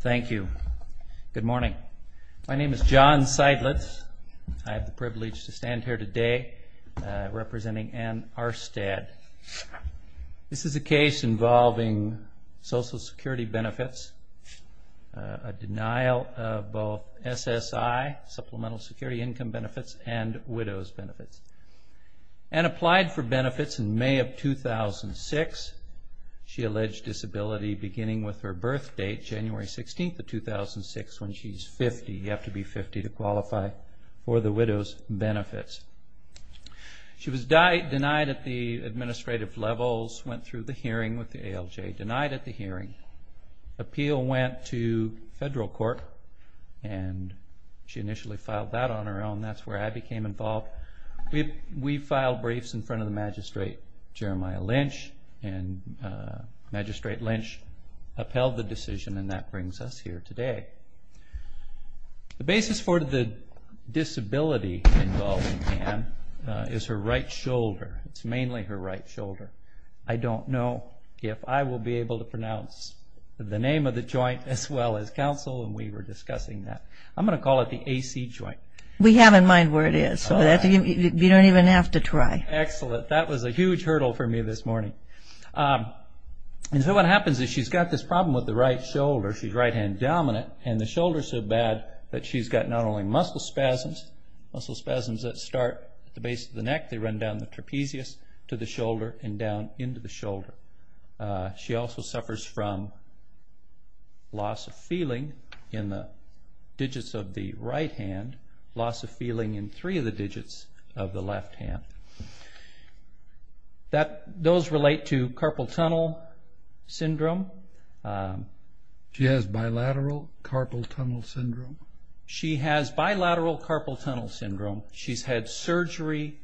Thank you. Good morning. My name is John Seidlitz. I have the privilege to stand here today representing Ann Aarestad. This is a case involving Social Security benefits, a denial of both SSI, Supplemental Security Income benefits, and widow's benefits. Ann applied for benefits in May of 2006. She alleged disability beginning with her birth date, January 16th of 2006, when she's 50. You have to be 50 to qualify for the widow's benefits. She was denied at the administrative levels, went through the hearing with the ALJ, denied at the hearing. The appeal went to federal court and she initially filed that on her own. That's where I became involved. We filed briefs in front of the magistrate, Jeremiah Lynch, and Magistrate Lynch upheld the decision and that brings us here today. The basis for the disability involved in Ann is her right shoulder. It's mainly her right shoulder. I don't know if I will be able to pronounce the name of the joint as well as counsel. We were discussing that. I'm going to call it the AC joint. We have in mind where it is. You don't even have to try. Excellent. That was a huge hurdle for me this morning. What happens is she's got this problem with the right shoulder. She's right hand dominant and the shoulder is so bad that she's got not only muscle spasms that start at the base of the neck. They run down the trapezius to the shoulder and down into the shoulder. She also suffers from loss of feeling in the digits of the right hand, loss of feeling in three of the digits of the left hand. Those relate to carpal tunnel syndrome. She has bilateral carpal tunnel syndrome? She has bilateral carpal tunnel syndrome. She's had surgery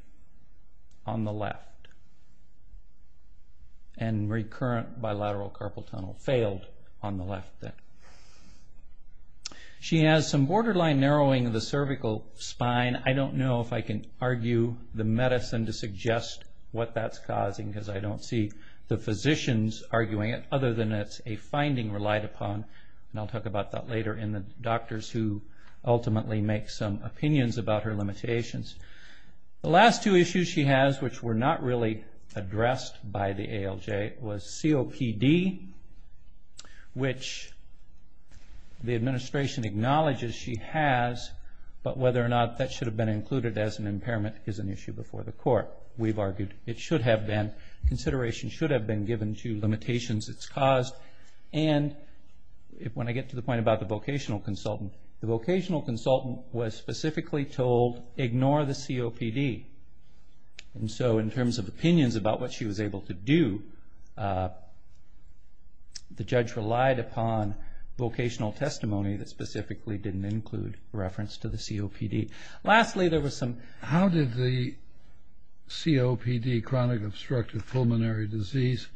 on the left and recurrent bilateral carpal tunnel failed on the left. She has some borderline narrowing of the cervical spine. I don't know if I can argue the medicine to suggest what that's causing because I don't see the physicians arguing it other than it's a finding relied upon. I'll talk about that later in the doctors who ultimately make some opinions about her limitations. The last two issues she has which were not really addressed by the ALJ was COPD which the administration acknowledges she has, but whether or not that should have been included as an impairment is an issue before the court. We've argued it should have been. Consideration should have been given to limitations it's caused. When I get to the point about the vocational consultant, the vocational consultant was specifically told ignore the COPD. In terms of opinions about what she was able to do, the judge relied upon vocational testimony that specifically didn't include reference to the COPD. How did the COPD, chronic obstructive pulmonary disease,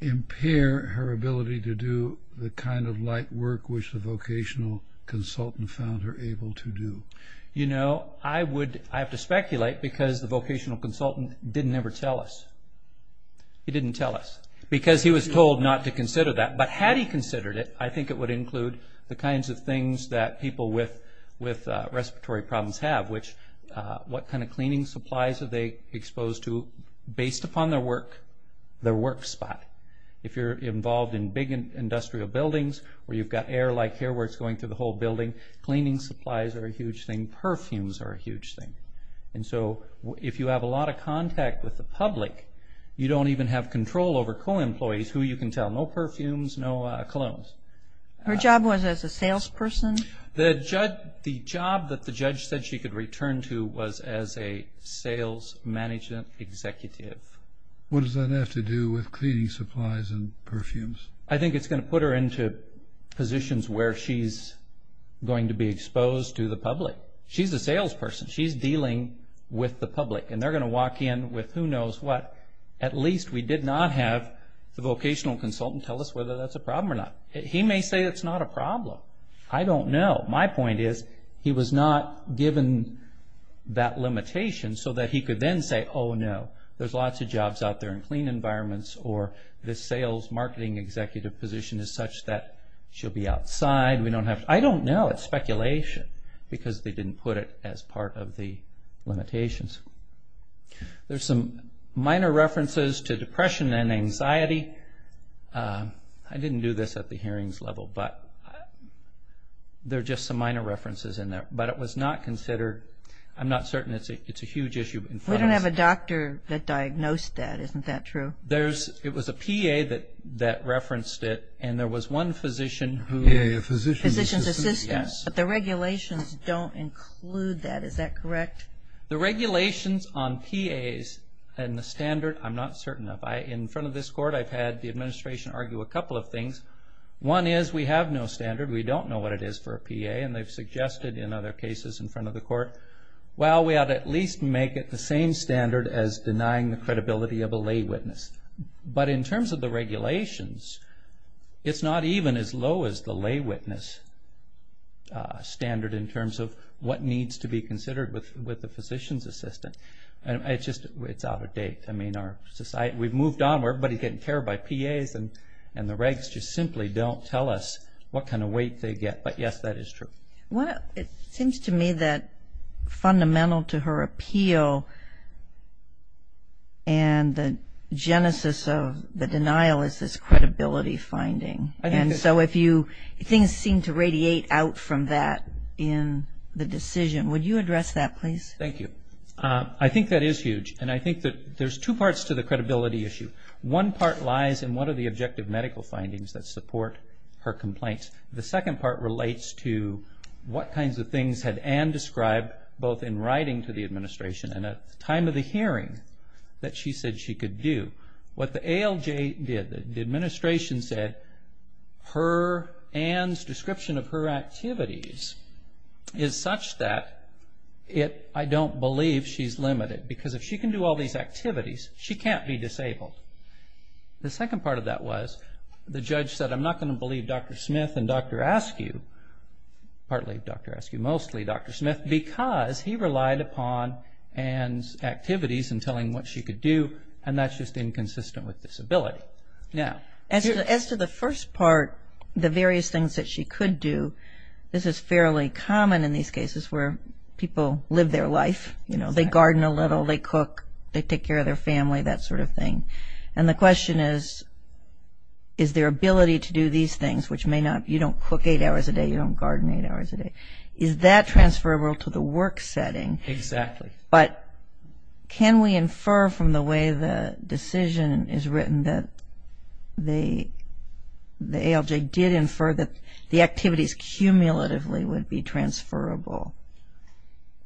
impair her ability to do the kind of light work which the vocational consultant found her able to do? I have to speculate because the vocational consultant didn't ever tell us. He didn't tell us because he was told not to consider that. Had he considered it, I think it would include the kinds of things that people with respiratory problems have. What kind of cleaning supplies are they exposed to based upon their work spot? If you're involved in big industrial buildings where you've got air like here where it's going through the whole building, cleaning supplies are a huge thing. Perfumes are a huge thing. If you have a lot of contact with the public, you don't even have control over co-employees who you can tell, no perfumes, no colognes. Her job was as a salesperson? The job that the judge said she could return to was as a sales management executive. What does that have to do with cleaning supplies and perfumes? I think it's going to put her into positions where she's going to be exposed to the public. She's a salesperson. She's dealing with the public and they're going to walk in with who knows what. At least we did not have the vocational consultant tell us whether that's a problem or not. He may say it's not a problem. I don't know. My point is he was not given that limitation so that he could then say, oh no, there's lots of jobs out there in clean environments or this sales marketing executive position is such that she'll be outside. I don't know. It's speculation because they didn't put it as part of the limitations. There's some minor references to depression and anxiety. I didn't do this at the hearings level, but there are just some minor references in there. But it was not considered. I'm not certain. It's a huge issue. We don't have a doctor that diagnosed that. Isn't that true? It was a PA that referenced it and there was one physician who PA, a physician's assistant. Yes. But the regulations don't include that. Is that correct? The regulations on PAs and the standard, I'm not certain of. In front of this court I've had the administration argue a couple of things. One is we have no standard. We don't know what it is for a PA, and they've suggested in other cases in front of the court, well, we ought to at least make it the same standard as denying the credibility of a lay witness. But in terms of the regulations, it's not even as low as the lay witness standard in terms of what needs to be considered with the physician's assistant. It's out of date. We've moved on where everybody's getting cared by PAs and the regs just simply don't tell us what kind of weight they get. But, yes, that is true. It seems to me that fundamental to her appeal and the genesis of the denial is this credibility finding. And so if things seem to radiate out from that in the decision, would you address that, please? Thank you. I think that is huge, and I think that there's two parts to the credibility issue. One part lies in what are the objective medical findings that support her complaints. The second part relates to what kinds of things had Anne described both in writing to the administration and at the time of the hearing that she said she could do. What the ALJ did, the administration said Anne's description of her activities is such that I don't believe she's limited because if she can do all these activities, she can't be disabled. The second part of that was the judge said, I'm not going to believe Dr. Smith and Dr. Askew, partly Dr. Askew, mostly Dr. Smith, because he relied upon Anne's activities in telling what she could do, and that's just inconsistent with disability. As to the first part, the various things that she could do, this is fairly common in these cases where people live their life. They garden a little. They cook. They take care of their family, that sort of thing. And the question is, is their ability to do these things, which you don't cook eight hours a day, you don't garden eight hours a day, is that transferable to the work setting? Exactly. But can we infer from the way the decision is written that the ALJ did infer that the activities cumulatively would be transferable?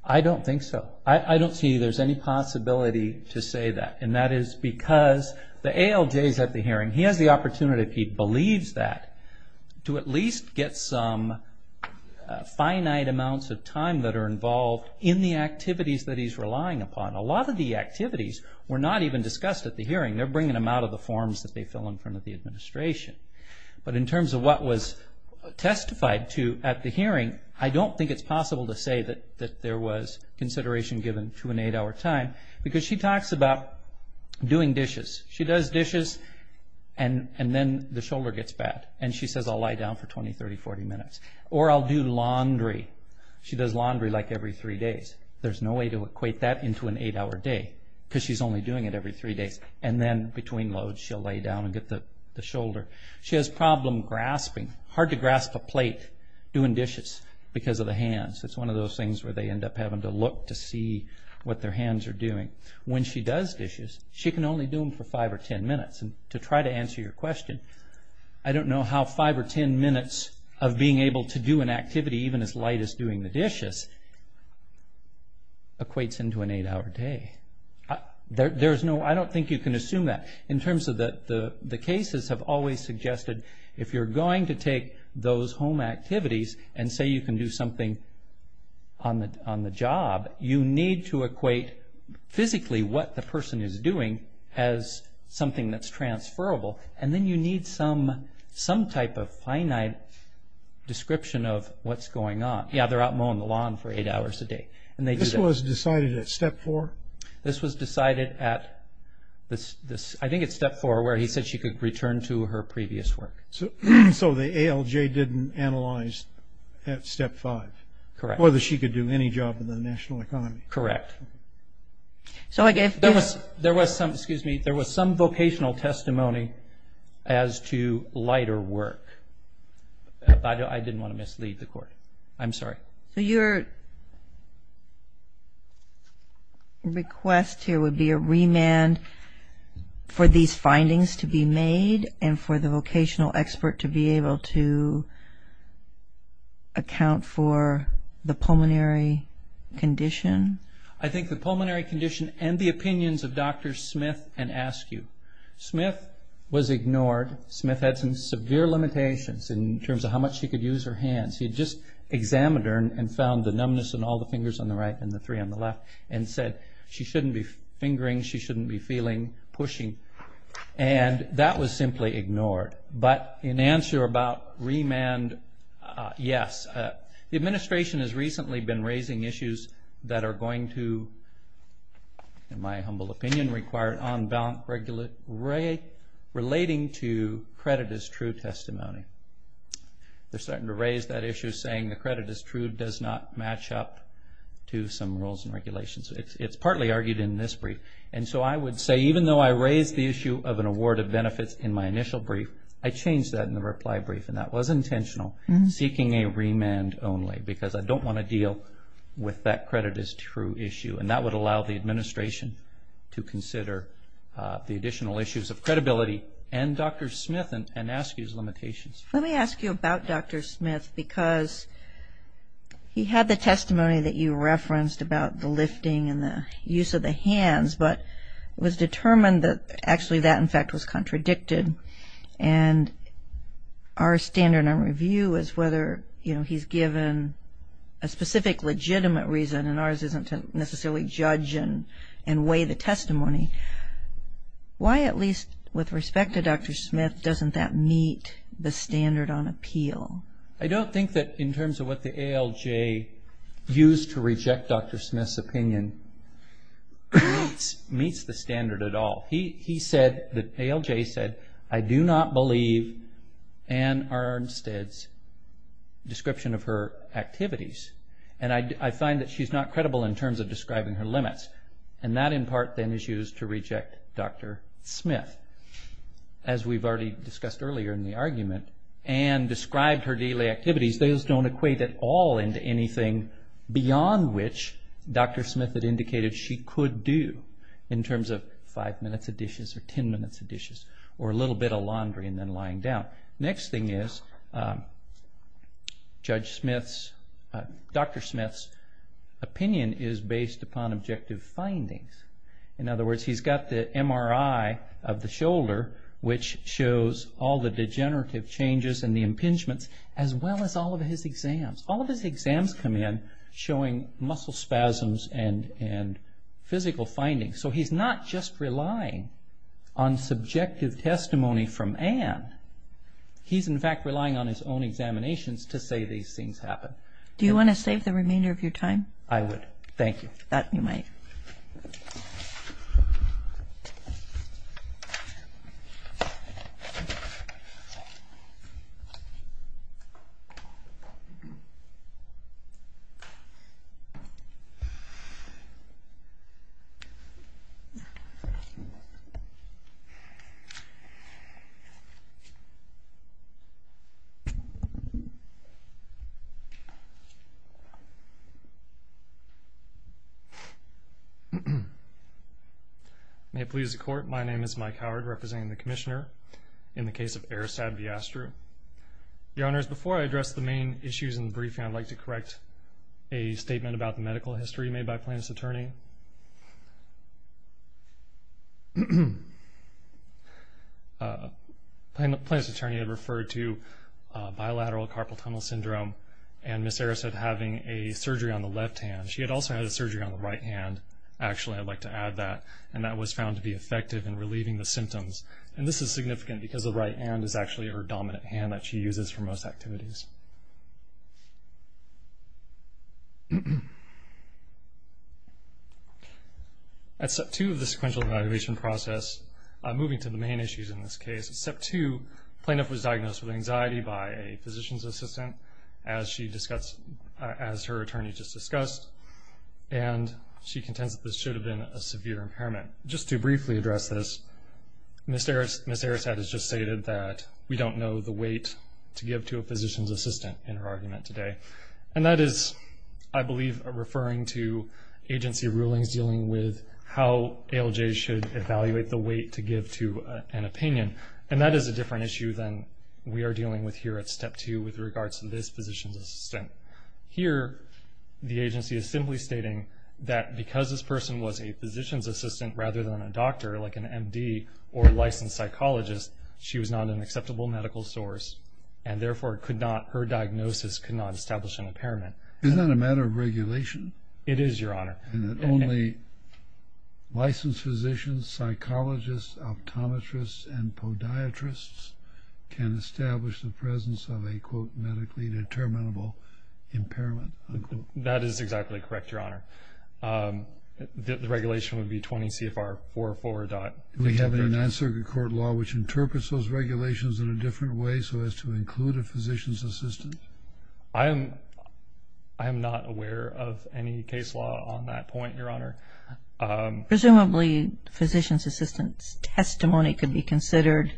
I don't think so. I don't see there's any possibility to say that, and that is because the ALJ is at the hearing. He has the opportunity, if he believes that, to at least get some finite amounts of time that are involved in the activities that he's relying upon. A lot of the activities were not even discussed at the hearing. They're bringing them out of the forms that they fill in front of the administration. But in terms of what was testified to at the hearing, I don't think it's possible to say that there was consideration given to an eight-hour time because she talks about doing dishes. She does dishes, and then the shoulder gets bad, and she says, I'll lie down for 20, 30, 40 minutes. Or I'll do laundry. She does laundry like every three days. There's no way to equate that into an eight-hour day because she's only doing it every three days. And then between loads, she'll lay down and get the shoulder. She has problem grasping, hard to grasp a plate doing dishes because of the hands. It's one of those things where they end up having to look to see what their hands are doing. When she does dishes, she can only do them for five or ten minutes. And to try to answer your question, I don't know how five or ten minutes of being able to do an activity, even as light as doing the dishes, equates into an eight-hour day. I don't think you can assume that. In terms of the cases have always suggested if you're going to take those home activities and say you can do something on the job, you need to equate physically what the person is doing as something that's transferable. And then you need some type of finite description of what's going on. Yeah, they're out mowing the lawn for eight hours a day. This was decided at step four? This was decided at, I think it's step four, where he said she could return to her previous work. So the ALJ didn't analyze at step five whether she could do any job in the national economy. Correct. There was some vocational testimony as to lighter work. I didn't want to mislead the court. I'm sorry. So your request here would be a remand for these findings to be made and for the vocational expert to be able to account for the pulmonary condition? I think the pulmonary condition and the opinions of Dr. Smith and Askew. Smith was ignored. Smith had some severe limitations in terms of how much she could use her hands. He had just examined her and found the numbness in all the fingers on the right and the three on the left and said she shouldn't be fingering, she shouldn't be feeling, pushing. And that was simply ignored. But in answer about remand, yes. The administration has recently been raising issues that are going to, in my humble opinion, require an on-balance relating to credit as true testimony. They're starting to raise that issue, saying the credit as true does not match up to some rules and regulations. It's partly argued in this brief. And so I would say even though I raised the issue of an award of benefits in my initial brief, I changed that in the reply brief, and that was intentional, seeking a remand only, because I don't want to deal with that credit as true issue. And that would allow the administration to consider the additional issues of credibility and Dr. Smith and ask you his limitations. Let me ask you about Dr. Smith, because he had the testimony that you referenced about the lifting and the use of the hands, but it was determined that actually that, in fact, was contradicted. And our standard of review is whether he's given a specific legitimate reason, Why, at least with respect to Dr. Smith, doesn't that meet the standard on appeal? I don't think that in terms of what the ALJ used to reject Dr. Smith's opinion meets the standard at all. He said, the ALJ said, I do not believe Anne Arnstead's description of her activities, and I find that she's not credible in terms of describing her limits. And that, in part, then is used to reject Dr. Smith. As we've already discussed earlier in the argument, Anne described her daily activities. Those don't equate at all into anything beyond which Dr. Smith had indicated she could do in terms of five minutes of dishes or ten minutes of dishes or a little bit of laundry and then lying down. Next thing is, Dr. Smith's opinion is based upon objective findings. In other words, he's got the MRI of the shoulder, which shows all the degenerative changes and the impingements, as well as all of his exams. All of his exams come in showing muscle spasms and physical findings. So he's not just relying on subjective testimony from Anne. He's, in fact, relying on his own examinations to say these things happen. Do you want to save the remainder of your time? I would. Thank you. That you might. Thank you. May it please the Court, my name is Mike Howard, representing the Commissioner in the case of Erisad Viastro. Your Honors, before I address the main issues in the briefing, I'd like to correct a statement about the medical history made by Plaintiff's Attorney. Plaintiff's Attorney had referred to bilateral carpal tunnel syndrome, and Ms. Erisad having a surgery on the left hand. She had also had a surgery on the right hand, actually, I'd like to add that, and that was found to be effective in relieving the symptoms. And this is significant because the right hand is actually her dominant hand that she uses for most activities. At Step 2 of the sequential evaluation process, moving to the main issues in this case, at Step 2, Plaintiff was diagnosed with anxiety by a physician's assistant, as her attorney just discussed, and she contends that this should have been a severe impairment. Just to briefly address this, Ms. Erisad has just stated that we don't know the weight to give to a physician's assistant in her argument today. And that is, I believe, referring to agency rulings dealing with how ALJs should evaluate the weight to give to an opinion. And that is a different issue than we are dealing with here at Step 2 with regards to this physician's assistant. Here, the agency is simply stating that because this person was a physician's assistant rather than a doctor, like an M.D. or licensed psychologist, she was not an acceptable medical source, and therefore her diagnosis could not establish an impairment. Is that a matter of regulation? It is, Your Honor. And that only licensed physicians, psychologists, optometrists, and podiatrists can establish the presence of a, quote, medically determinable impairment, unquote. That is exactly correct, Your Honor. The regulation would be 20 CFR 444. Do we have a Ninth Circuit Court law which interprets those regulations in a different way so as to include a physician's assistant? I am not aware of any case law on that point, Your Honor. Presumably, physician's assistant's testimony could be considered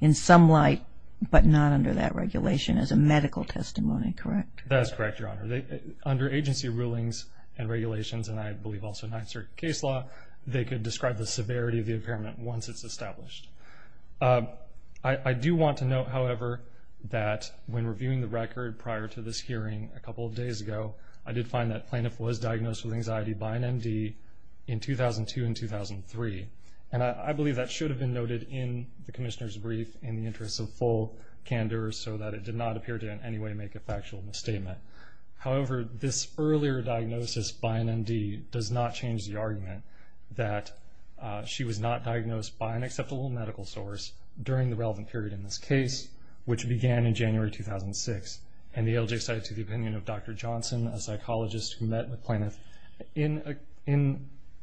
in some light but not under that regulation as a medical testimony, correct? That is correct, Your Honor. Under agency rulings and regulations, and I believe also Ninth Circuit case law, they could describe the severity of the impairment once it's established. I do want to note, however, that when reviewing the record prior to this hearing a couple of days ago, I did find that plaintiff was diagnosed with anxiety by an MD in 2002 and 2003. And I believe that should have been noted in the commissioner's brief in the interest of full candor so that it did not appear to in any way make a factual misstatement. However, this earlier diagnosis by an MD does not change the argument that she was not diagnosed by an acceptable medical source during the relevant period in this case, which began in January 2006. And the ALJ cited to the opinion of Dr. Johnson, a psychologist who met with plaintiff in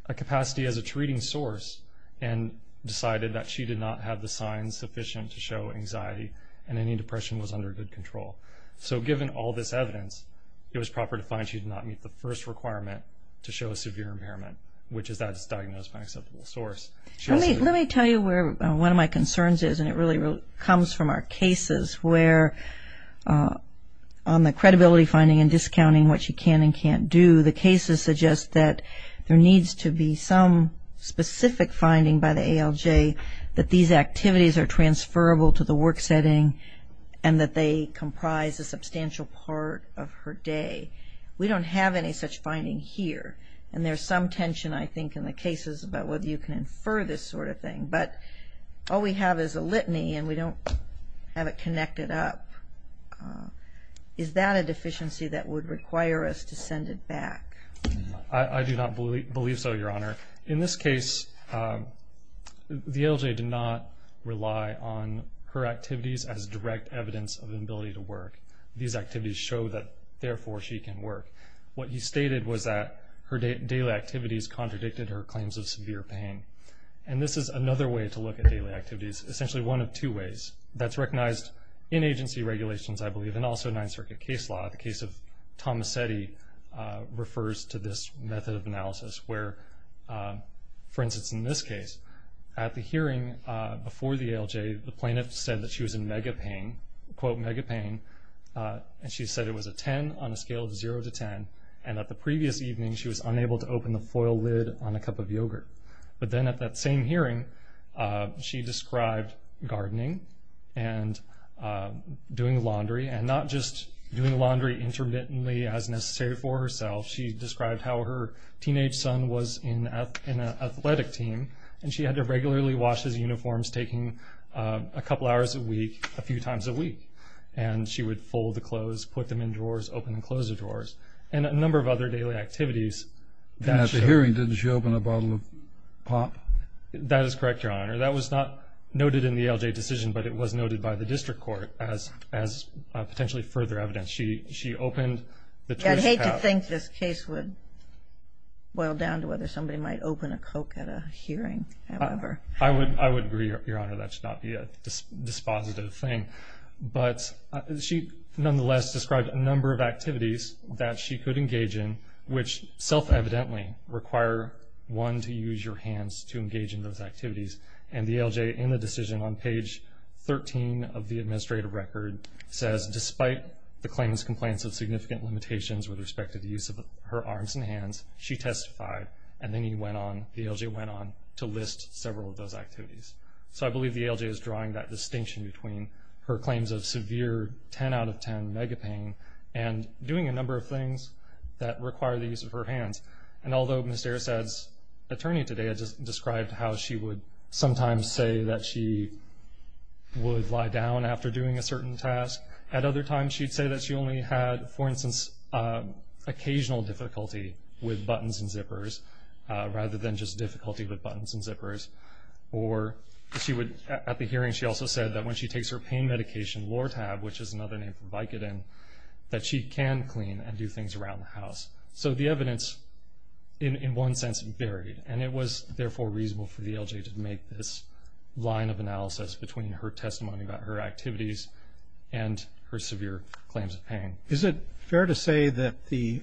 a capacity as a treating source and decided that she did not have the signs sufficient to show anxiety and any depression was under good control. So given all this evidence, it was proper to find she did not meet the first requirement to show a severe impairment, which is that it's diagnosed by an acceptable source. Let me tell you where one of my concerns is, and it really comes from our cases, where on the credibility finding and discounting what she can and can't do, the cases suggest that there needs to be some specific finding by the ALJ that these activities are transferable to the work setting and that they comprise a substantial part of her day. We don't have any such finding here. And there's some tension, I think, in the cases about whether you can infer this sort of thing. But all we have is a litany, and we don't have it connected up. Is that a deficiency that would require us to send it back? I do not believe so, Your Honor. In this case, the ALJ did not rely on her activities as direct evidence of an ability to work. These activities show that, therefore, she can work. What he stated was that her daily activities contradicted her claims of severe pain. And this is another way to look at daily activities, essentially one of two ways. That's recognized in agency regulations, I believe, and also Ninth Circuit case law. The case of Tomasetti refers to this method of analysis where, for instance, in this case, at the hearing before the ALJ, the plaintiff said that she was in mega pain, quote, mega pain, and she said it was a 10 on a scale of 0 to 10. And at the previous evening, she was unable to open the foil lid on a cup of yogurt. But then at that same hearing, she described gardening and doing laundry, and not just doing laundry intermittently as necessary for herself. She described how her teenage son was in an athletic team, and she had to regularly wash his uniforms, taking a couple hours a week a few times a week. And she would fold the clothes, put them in drawers, open and close the drawers, and a number of other daily activities. And at the hearing, didn't she open a bottle of pop? That is correct, Your Honor. That was not noted in the ALJ decision, but it was noted by the district court as potentially further evidence. She opened the trash cap. I'd hate to think this case would boil down to whether somebody might open a Coke at a hearing, however. I would agree, Your Honor. That should not be a dispositive thing. But she nonetheless described a number of activities that she could engage in, which self-evidently require one to use your hands to engage in those activities. And the ALJ, in the decision on page 13 of the administrative record, says despite the claimant's complaints of significant limitations with respect to the use of her arms and hands, she testified, and then the ALJ went on to list several of those activities. So I believe the ALJ is drawing that distinction between her claims of severe 10 out of 10 mega pain and doing a number of things that require the use of her hands. And although Ms. Arasad's attorney today had described how she would sometimes say that she would lie down after doing a certain task, at other times she'd say that she only had, for instance, occasional difficulty with buttons and zippers rather than just difficulty with buttons and zippers, or at the hearing she also said that when she takes her pain medication Lortab, which is another name for Vicodin, that she can clean and do things around the house. So the evidence in one sense varied, and it was therefore reasonable for the ALJ to make this line of analysis between her testimony about her activities and her severe claims of pain. Is it fair to say that the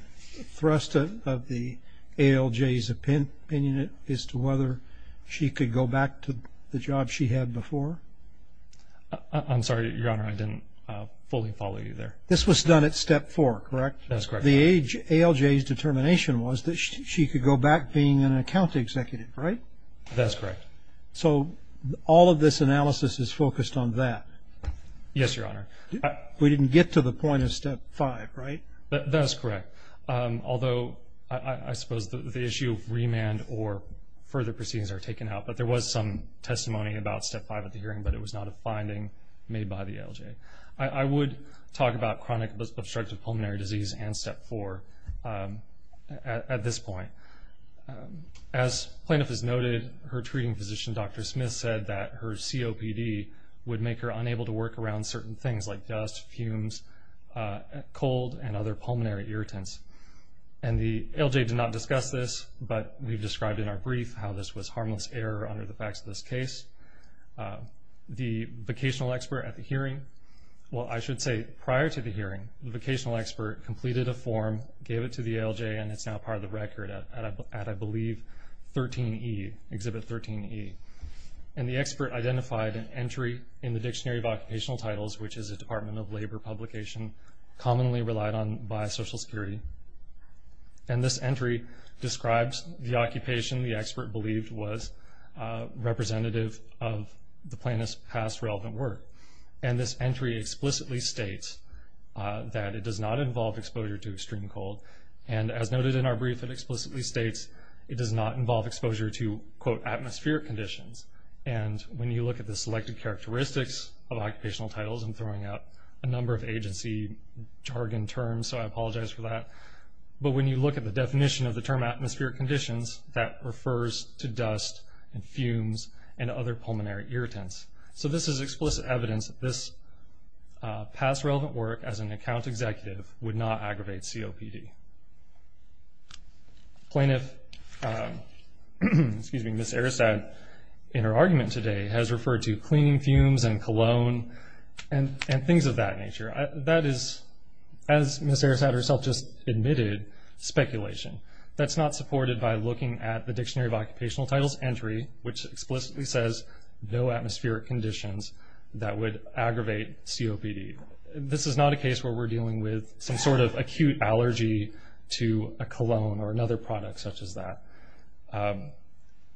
thrust of the ALJ's opinion is to whether she could go back to the job she had before? I'm sorry, Your Honor, I didn't fully follow you there. This was done at step four, correct? That's correct. The ALJ's determination was that she could go back being an account executive, right? That's correct. So all of this analysis is focused on that? Yes, Your Honor. We didn't get to the point of step five, right? That is correct, although I suppose the issue of remand or further proceedings are taken out, but there was some testimony about step five at the hearing, but it was not a finding made by the ALJ. I would talk about chronic obstructive pulmonary disease and step four at this point. As plaintiff has noted, her treating physician, Dr. Smith, has said that her COPD would make her unable to work around certain things like dust, fumes, cold, and other pulmonary irritants, and the ALJ did not discuss this, but we've described in our brief how this was harmless error under the facts of this case. The vocational expert at the hearing, well, I should say prior to the hearing, the vocational expert completed a form, gave it to the ALJ, and it's now part of the record at, I believe, 13E, Exhibit 13E, and the expert identified an entry in the Dictionary of Occupational Titles, which is a Department of Labor publication commonly relied on by Social Security, and this entry describes the occupation the expert believed was representative of the plaintiff's past relevant work, and this entry explicitly states that it does not involve exposure to extreme cold, and as noted in our brief, it explicitly states it does not involve exposure to, quote, atmospheric conditions, and when you look at the selected characteristics of occupational titles, I'm throwing out a number of agency jargon terms, so I apologize for that, but when you look at the definition of the term atmospheric conditions, that refers to dust and fumes and other pulmonary irritants, so this is explicit evidence that this past relevant work as an account executive would not aggravate COPD. The plaintiff, Ms. Aristad, in her argument today has referred to cleaning fumes and cologne and things of that nature. That is, as Ms. Aristad herself just admitted, speculation. That's not supported by looking at the Dictionary of Occupational Titles entry, which explicitly says no atmospheric conditions that would aggravate COPD. This is not a case where we're dealing with some sort of acute allergy to a cologne or another product such as that,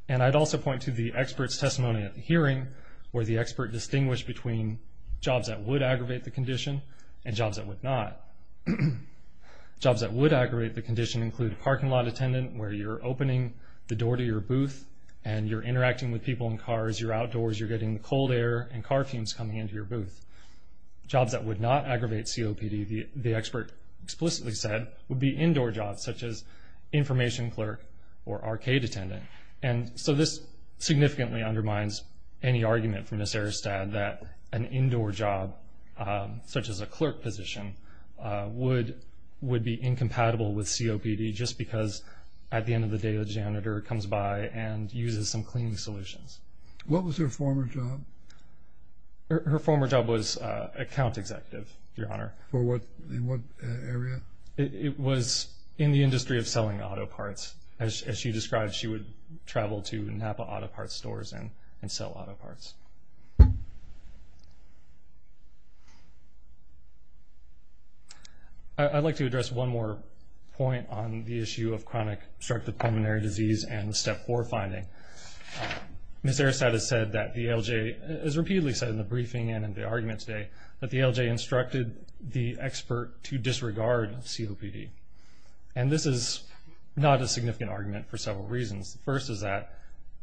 and I'd also point to the expert's testimony at the hearing where the expert distinguished between jobs that would aggravate the condition and jobs that would not. Jobs that would aggravate the condition include a parking lot attendant where you're opening the door to your booth and you're interacting with people in cars. You're outdoors. You're getting the cold air and car fumes coming into your booth. Jobs that would not aggravate COPD, the expert explicitly said, would be indoor jobs such as information clerk or arcade attendant, and so this significantly undermines any argument from Ms. Aristad that an indoor job, such as a clerk position, would be incompatible with COPD just because at the end of the day the janitor comes by and uses some cleaning solutions. What was her former job? Her former job was account executive, Your Honor. In what area? It was in the industry of selling auto parts. As she described, she would travel to Napa auto parts stores and sell auto parts. I'd like to address one more point on the issue of chronic obstructive pulmonary disease and the Step 4 finding. Ms. Aristad has said that the ALJ, as repeatedly said in the briefing and in the argument today, that the ALJ instructed the expert to disregard COPD, and this is not a significant argument for several reasons. The first is that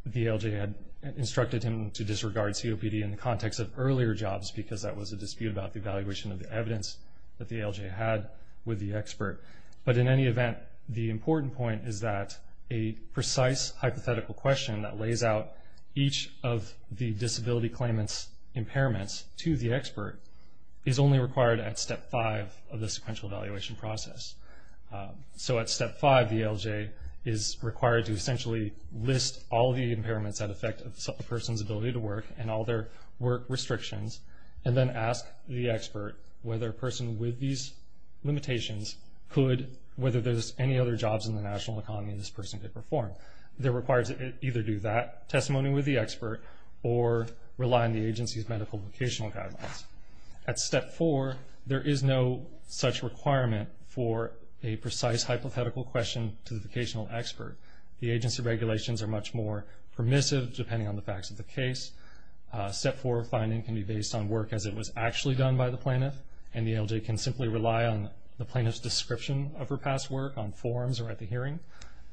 the ALJ had instructed him to disregard COPD. in the context of earlier jobs because that was a dispute about the evaluation of the evidence that the ALJ had with the expert. But in any event, the important point is that a precise hypothetical question that lays out each of the disability claimant's impairments to the expert is only required at Step 5 of the sequential evaluation process. So at Step 5, the ALJ is required to essentially list all the impairments that affect a person's ability to work and all their work restrictions and then ask the expert whether a person with these limitations could, whether there's any other jobs in the national economy this person could perform. They're required to either do that testimony with the expert or rely on the agency's medical vocational guidelines. At Step 4, there is no such requirement for a precise hypothetical question to the vocational expert. The agency regulations are much more permissive depending on the facts of the case. Step 4 finding can be based on work as it was actually done by the plaintiff, and the ALJ can simply rely on the plaintiff's description of her past work on forms or at the hearing.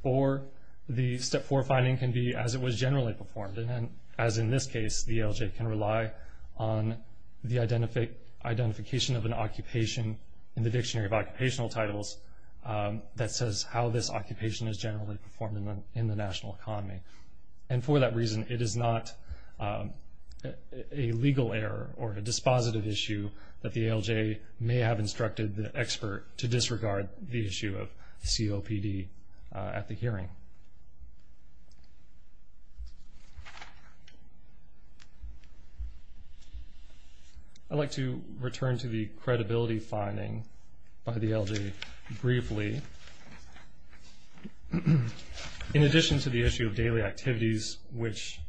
Or the Step 4 finding can be as it was generally performed, and as in this case, the ALJ can rely on the identification of an occupation in the Dictionary of Occupational Titles that says how this occupation is generally performed in the national economy. And for that reason, it is not a legal error or a dispositive issue that the ALJ may have instructed the expert to disregard the issue of COPD at the hearing. I'd like to return to the credibility finding by the ALJ briefly. In addition to the issue of daily activities, which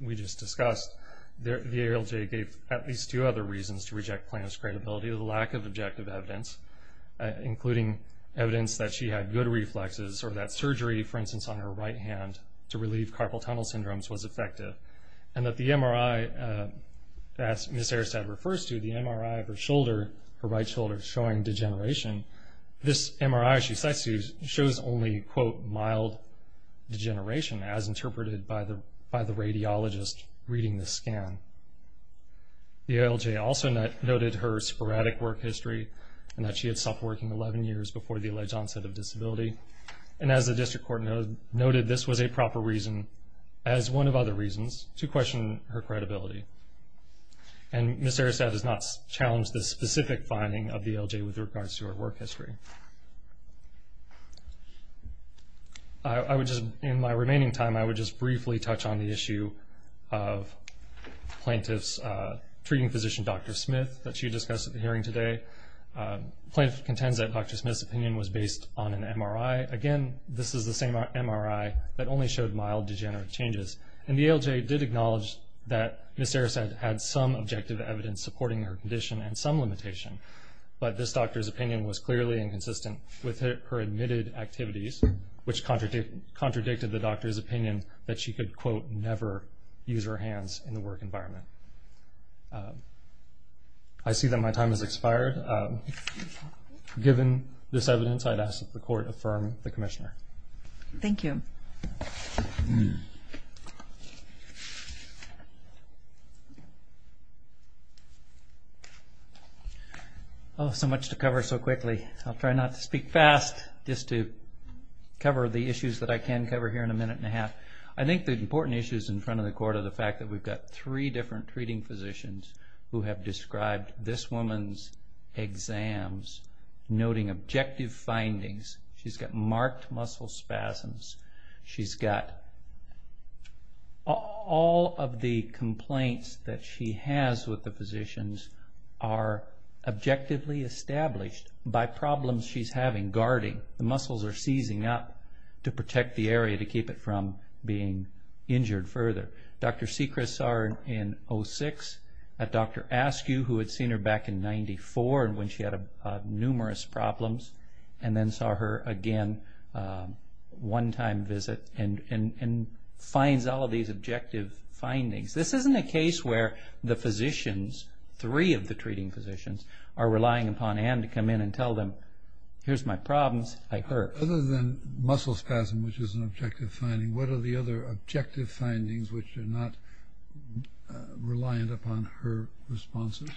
we just discussed, the ALJ gave at least two other reasons to reject plaintiff's credibility, the lack of objective evidence, including evidence that she had good reflexes or that surgery, for instance, on her right hand, to relieve carpal tunnel syndromes was effective, and that the MRI, as Ms. Airstead refers to, the MRI of her shoulder, her right shoulder, showing degeneration. This MRI she cites to shows only, quote, mild degeneration, as interpreted by the radiologist reading the scan. The ALJ also noted her sporadic work history and that she had stopped working 11 years before the alleged onset of disability. And as the district court noted, this was a proper reason, as one of other reasons, to question her credibility. And Ms. Airstead does not challenge this specific finding of the ALJ with regards to her work history. I would just, in my remaining time, I would just briefly touch on the issue of plaintiff's treating physician, Dr. Smith, that she discussed at the hearing today. Plaintiff contends that Dr. Smith's opinion was based on an MRI. Again, this is the same MRI that only showed mild degenerative changes. And the ALJ did acknowledge that Ms. Airstead had some objective evidence supporting her condition and some limitation, but this doctor's opinion was clearly inconsistent with her admitted activities, which contradicted the doctor's opinion that she could, quote, never use her hands in the work environment. I see that my time has expired. Given this evidence, I'd ask that the court affirm the commissioner. Thank you. Oh, so much to cover so quickly. I'll try not to speak fast, just to cover the issues that I can cover here in a minute and a half. I think the important issues in front of the court are the fact that we've got three different treating physicians who have described this woman's exams, noting objective findings. She's got marked muscle spasms. She's got all of the complaints that she has with the physicians are objectively established by problems she's having, guarding. The muscles are seizing up to protect the area to keep it from being injured further. Dr. Seacrest saw her in 06. Dr. Askew, who had seen her back in 94 when she had numerous problems, and then saw her again one time visit and finds all of these objective findings. This isn't a case where the physicians, three of the treating physicians, are relying upon Ann to come in and tell them, here's my problems, I hurt. Other than muscle spasm, which is an objective finding, what are the other objective findings which are not reliant upon her responses?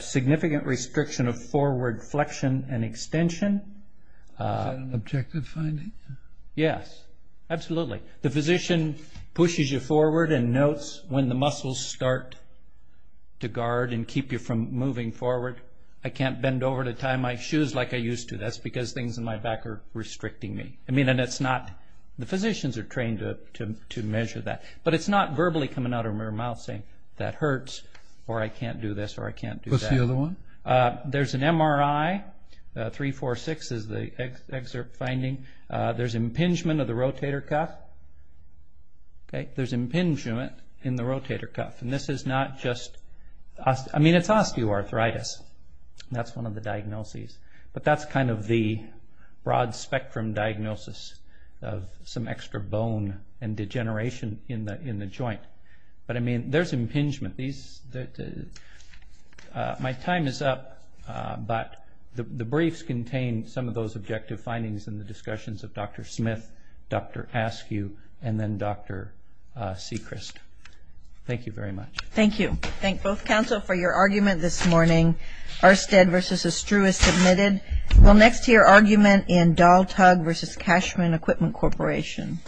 Significant restriction of forward flexion and extension. Is that an objective finding? Yes, absolutely. The physician pushes you forward and notes when the muscles start to guard and keep you from moving forward. I can't bend over to tie my shoes like I used to. That's because things in my back are restricting me. The physicians are trained to measure that. But it's not verbally coming out of her mouth saying, that hurts, or I can't do this or I can't do that. What's the other one? There's an MRI, 346 is the excerpt finding. There's impingement of the rotator cuff. There's impingement in the rotator cuff. And this is not just, I mean it's osteoarthritis. That's one of the diagnoses. But that's kind of the broad spectrum diagnosis of some extra bone and degeneration in the joint. But, I mean, there's impingement. My time is up, but the briefs contain some of those objective findings in the discussions of Dr. Smith, Dr. Askew, and then Dr. Sechrist. Thank you very much. Thank you. Thank both counsel for your argument this morning. Arstead v. Estrue is submitted. We'll next hear argument in Daltug v. Cashman Equipment Corporation.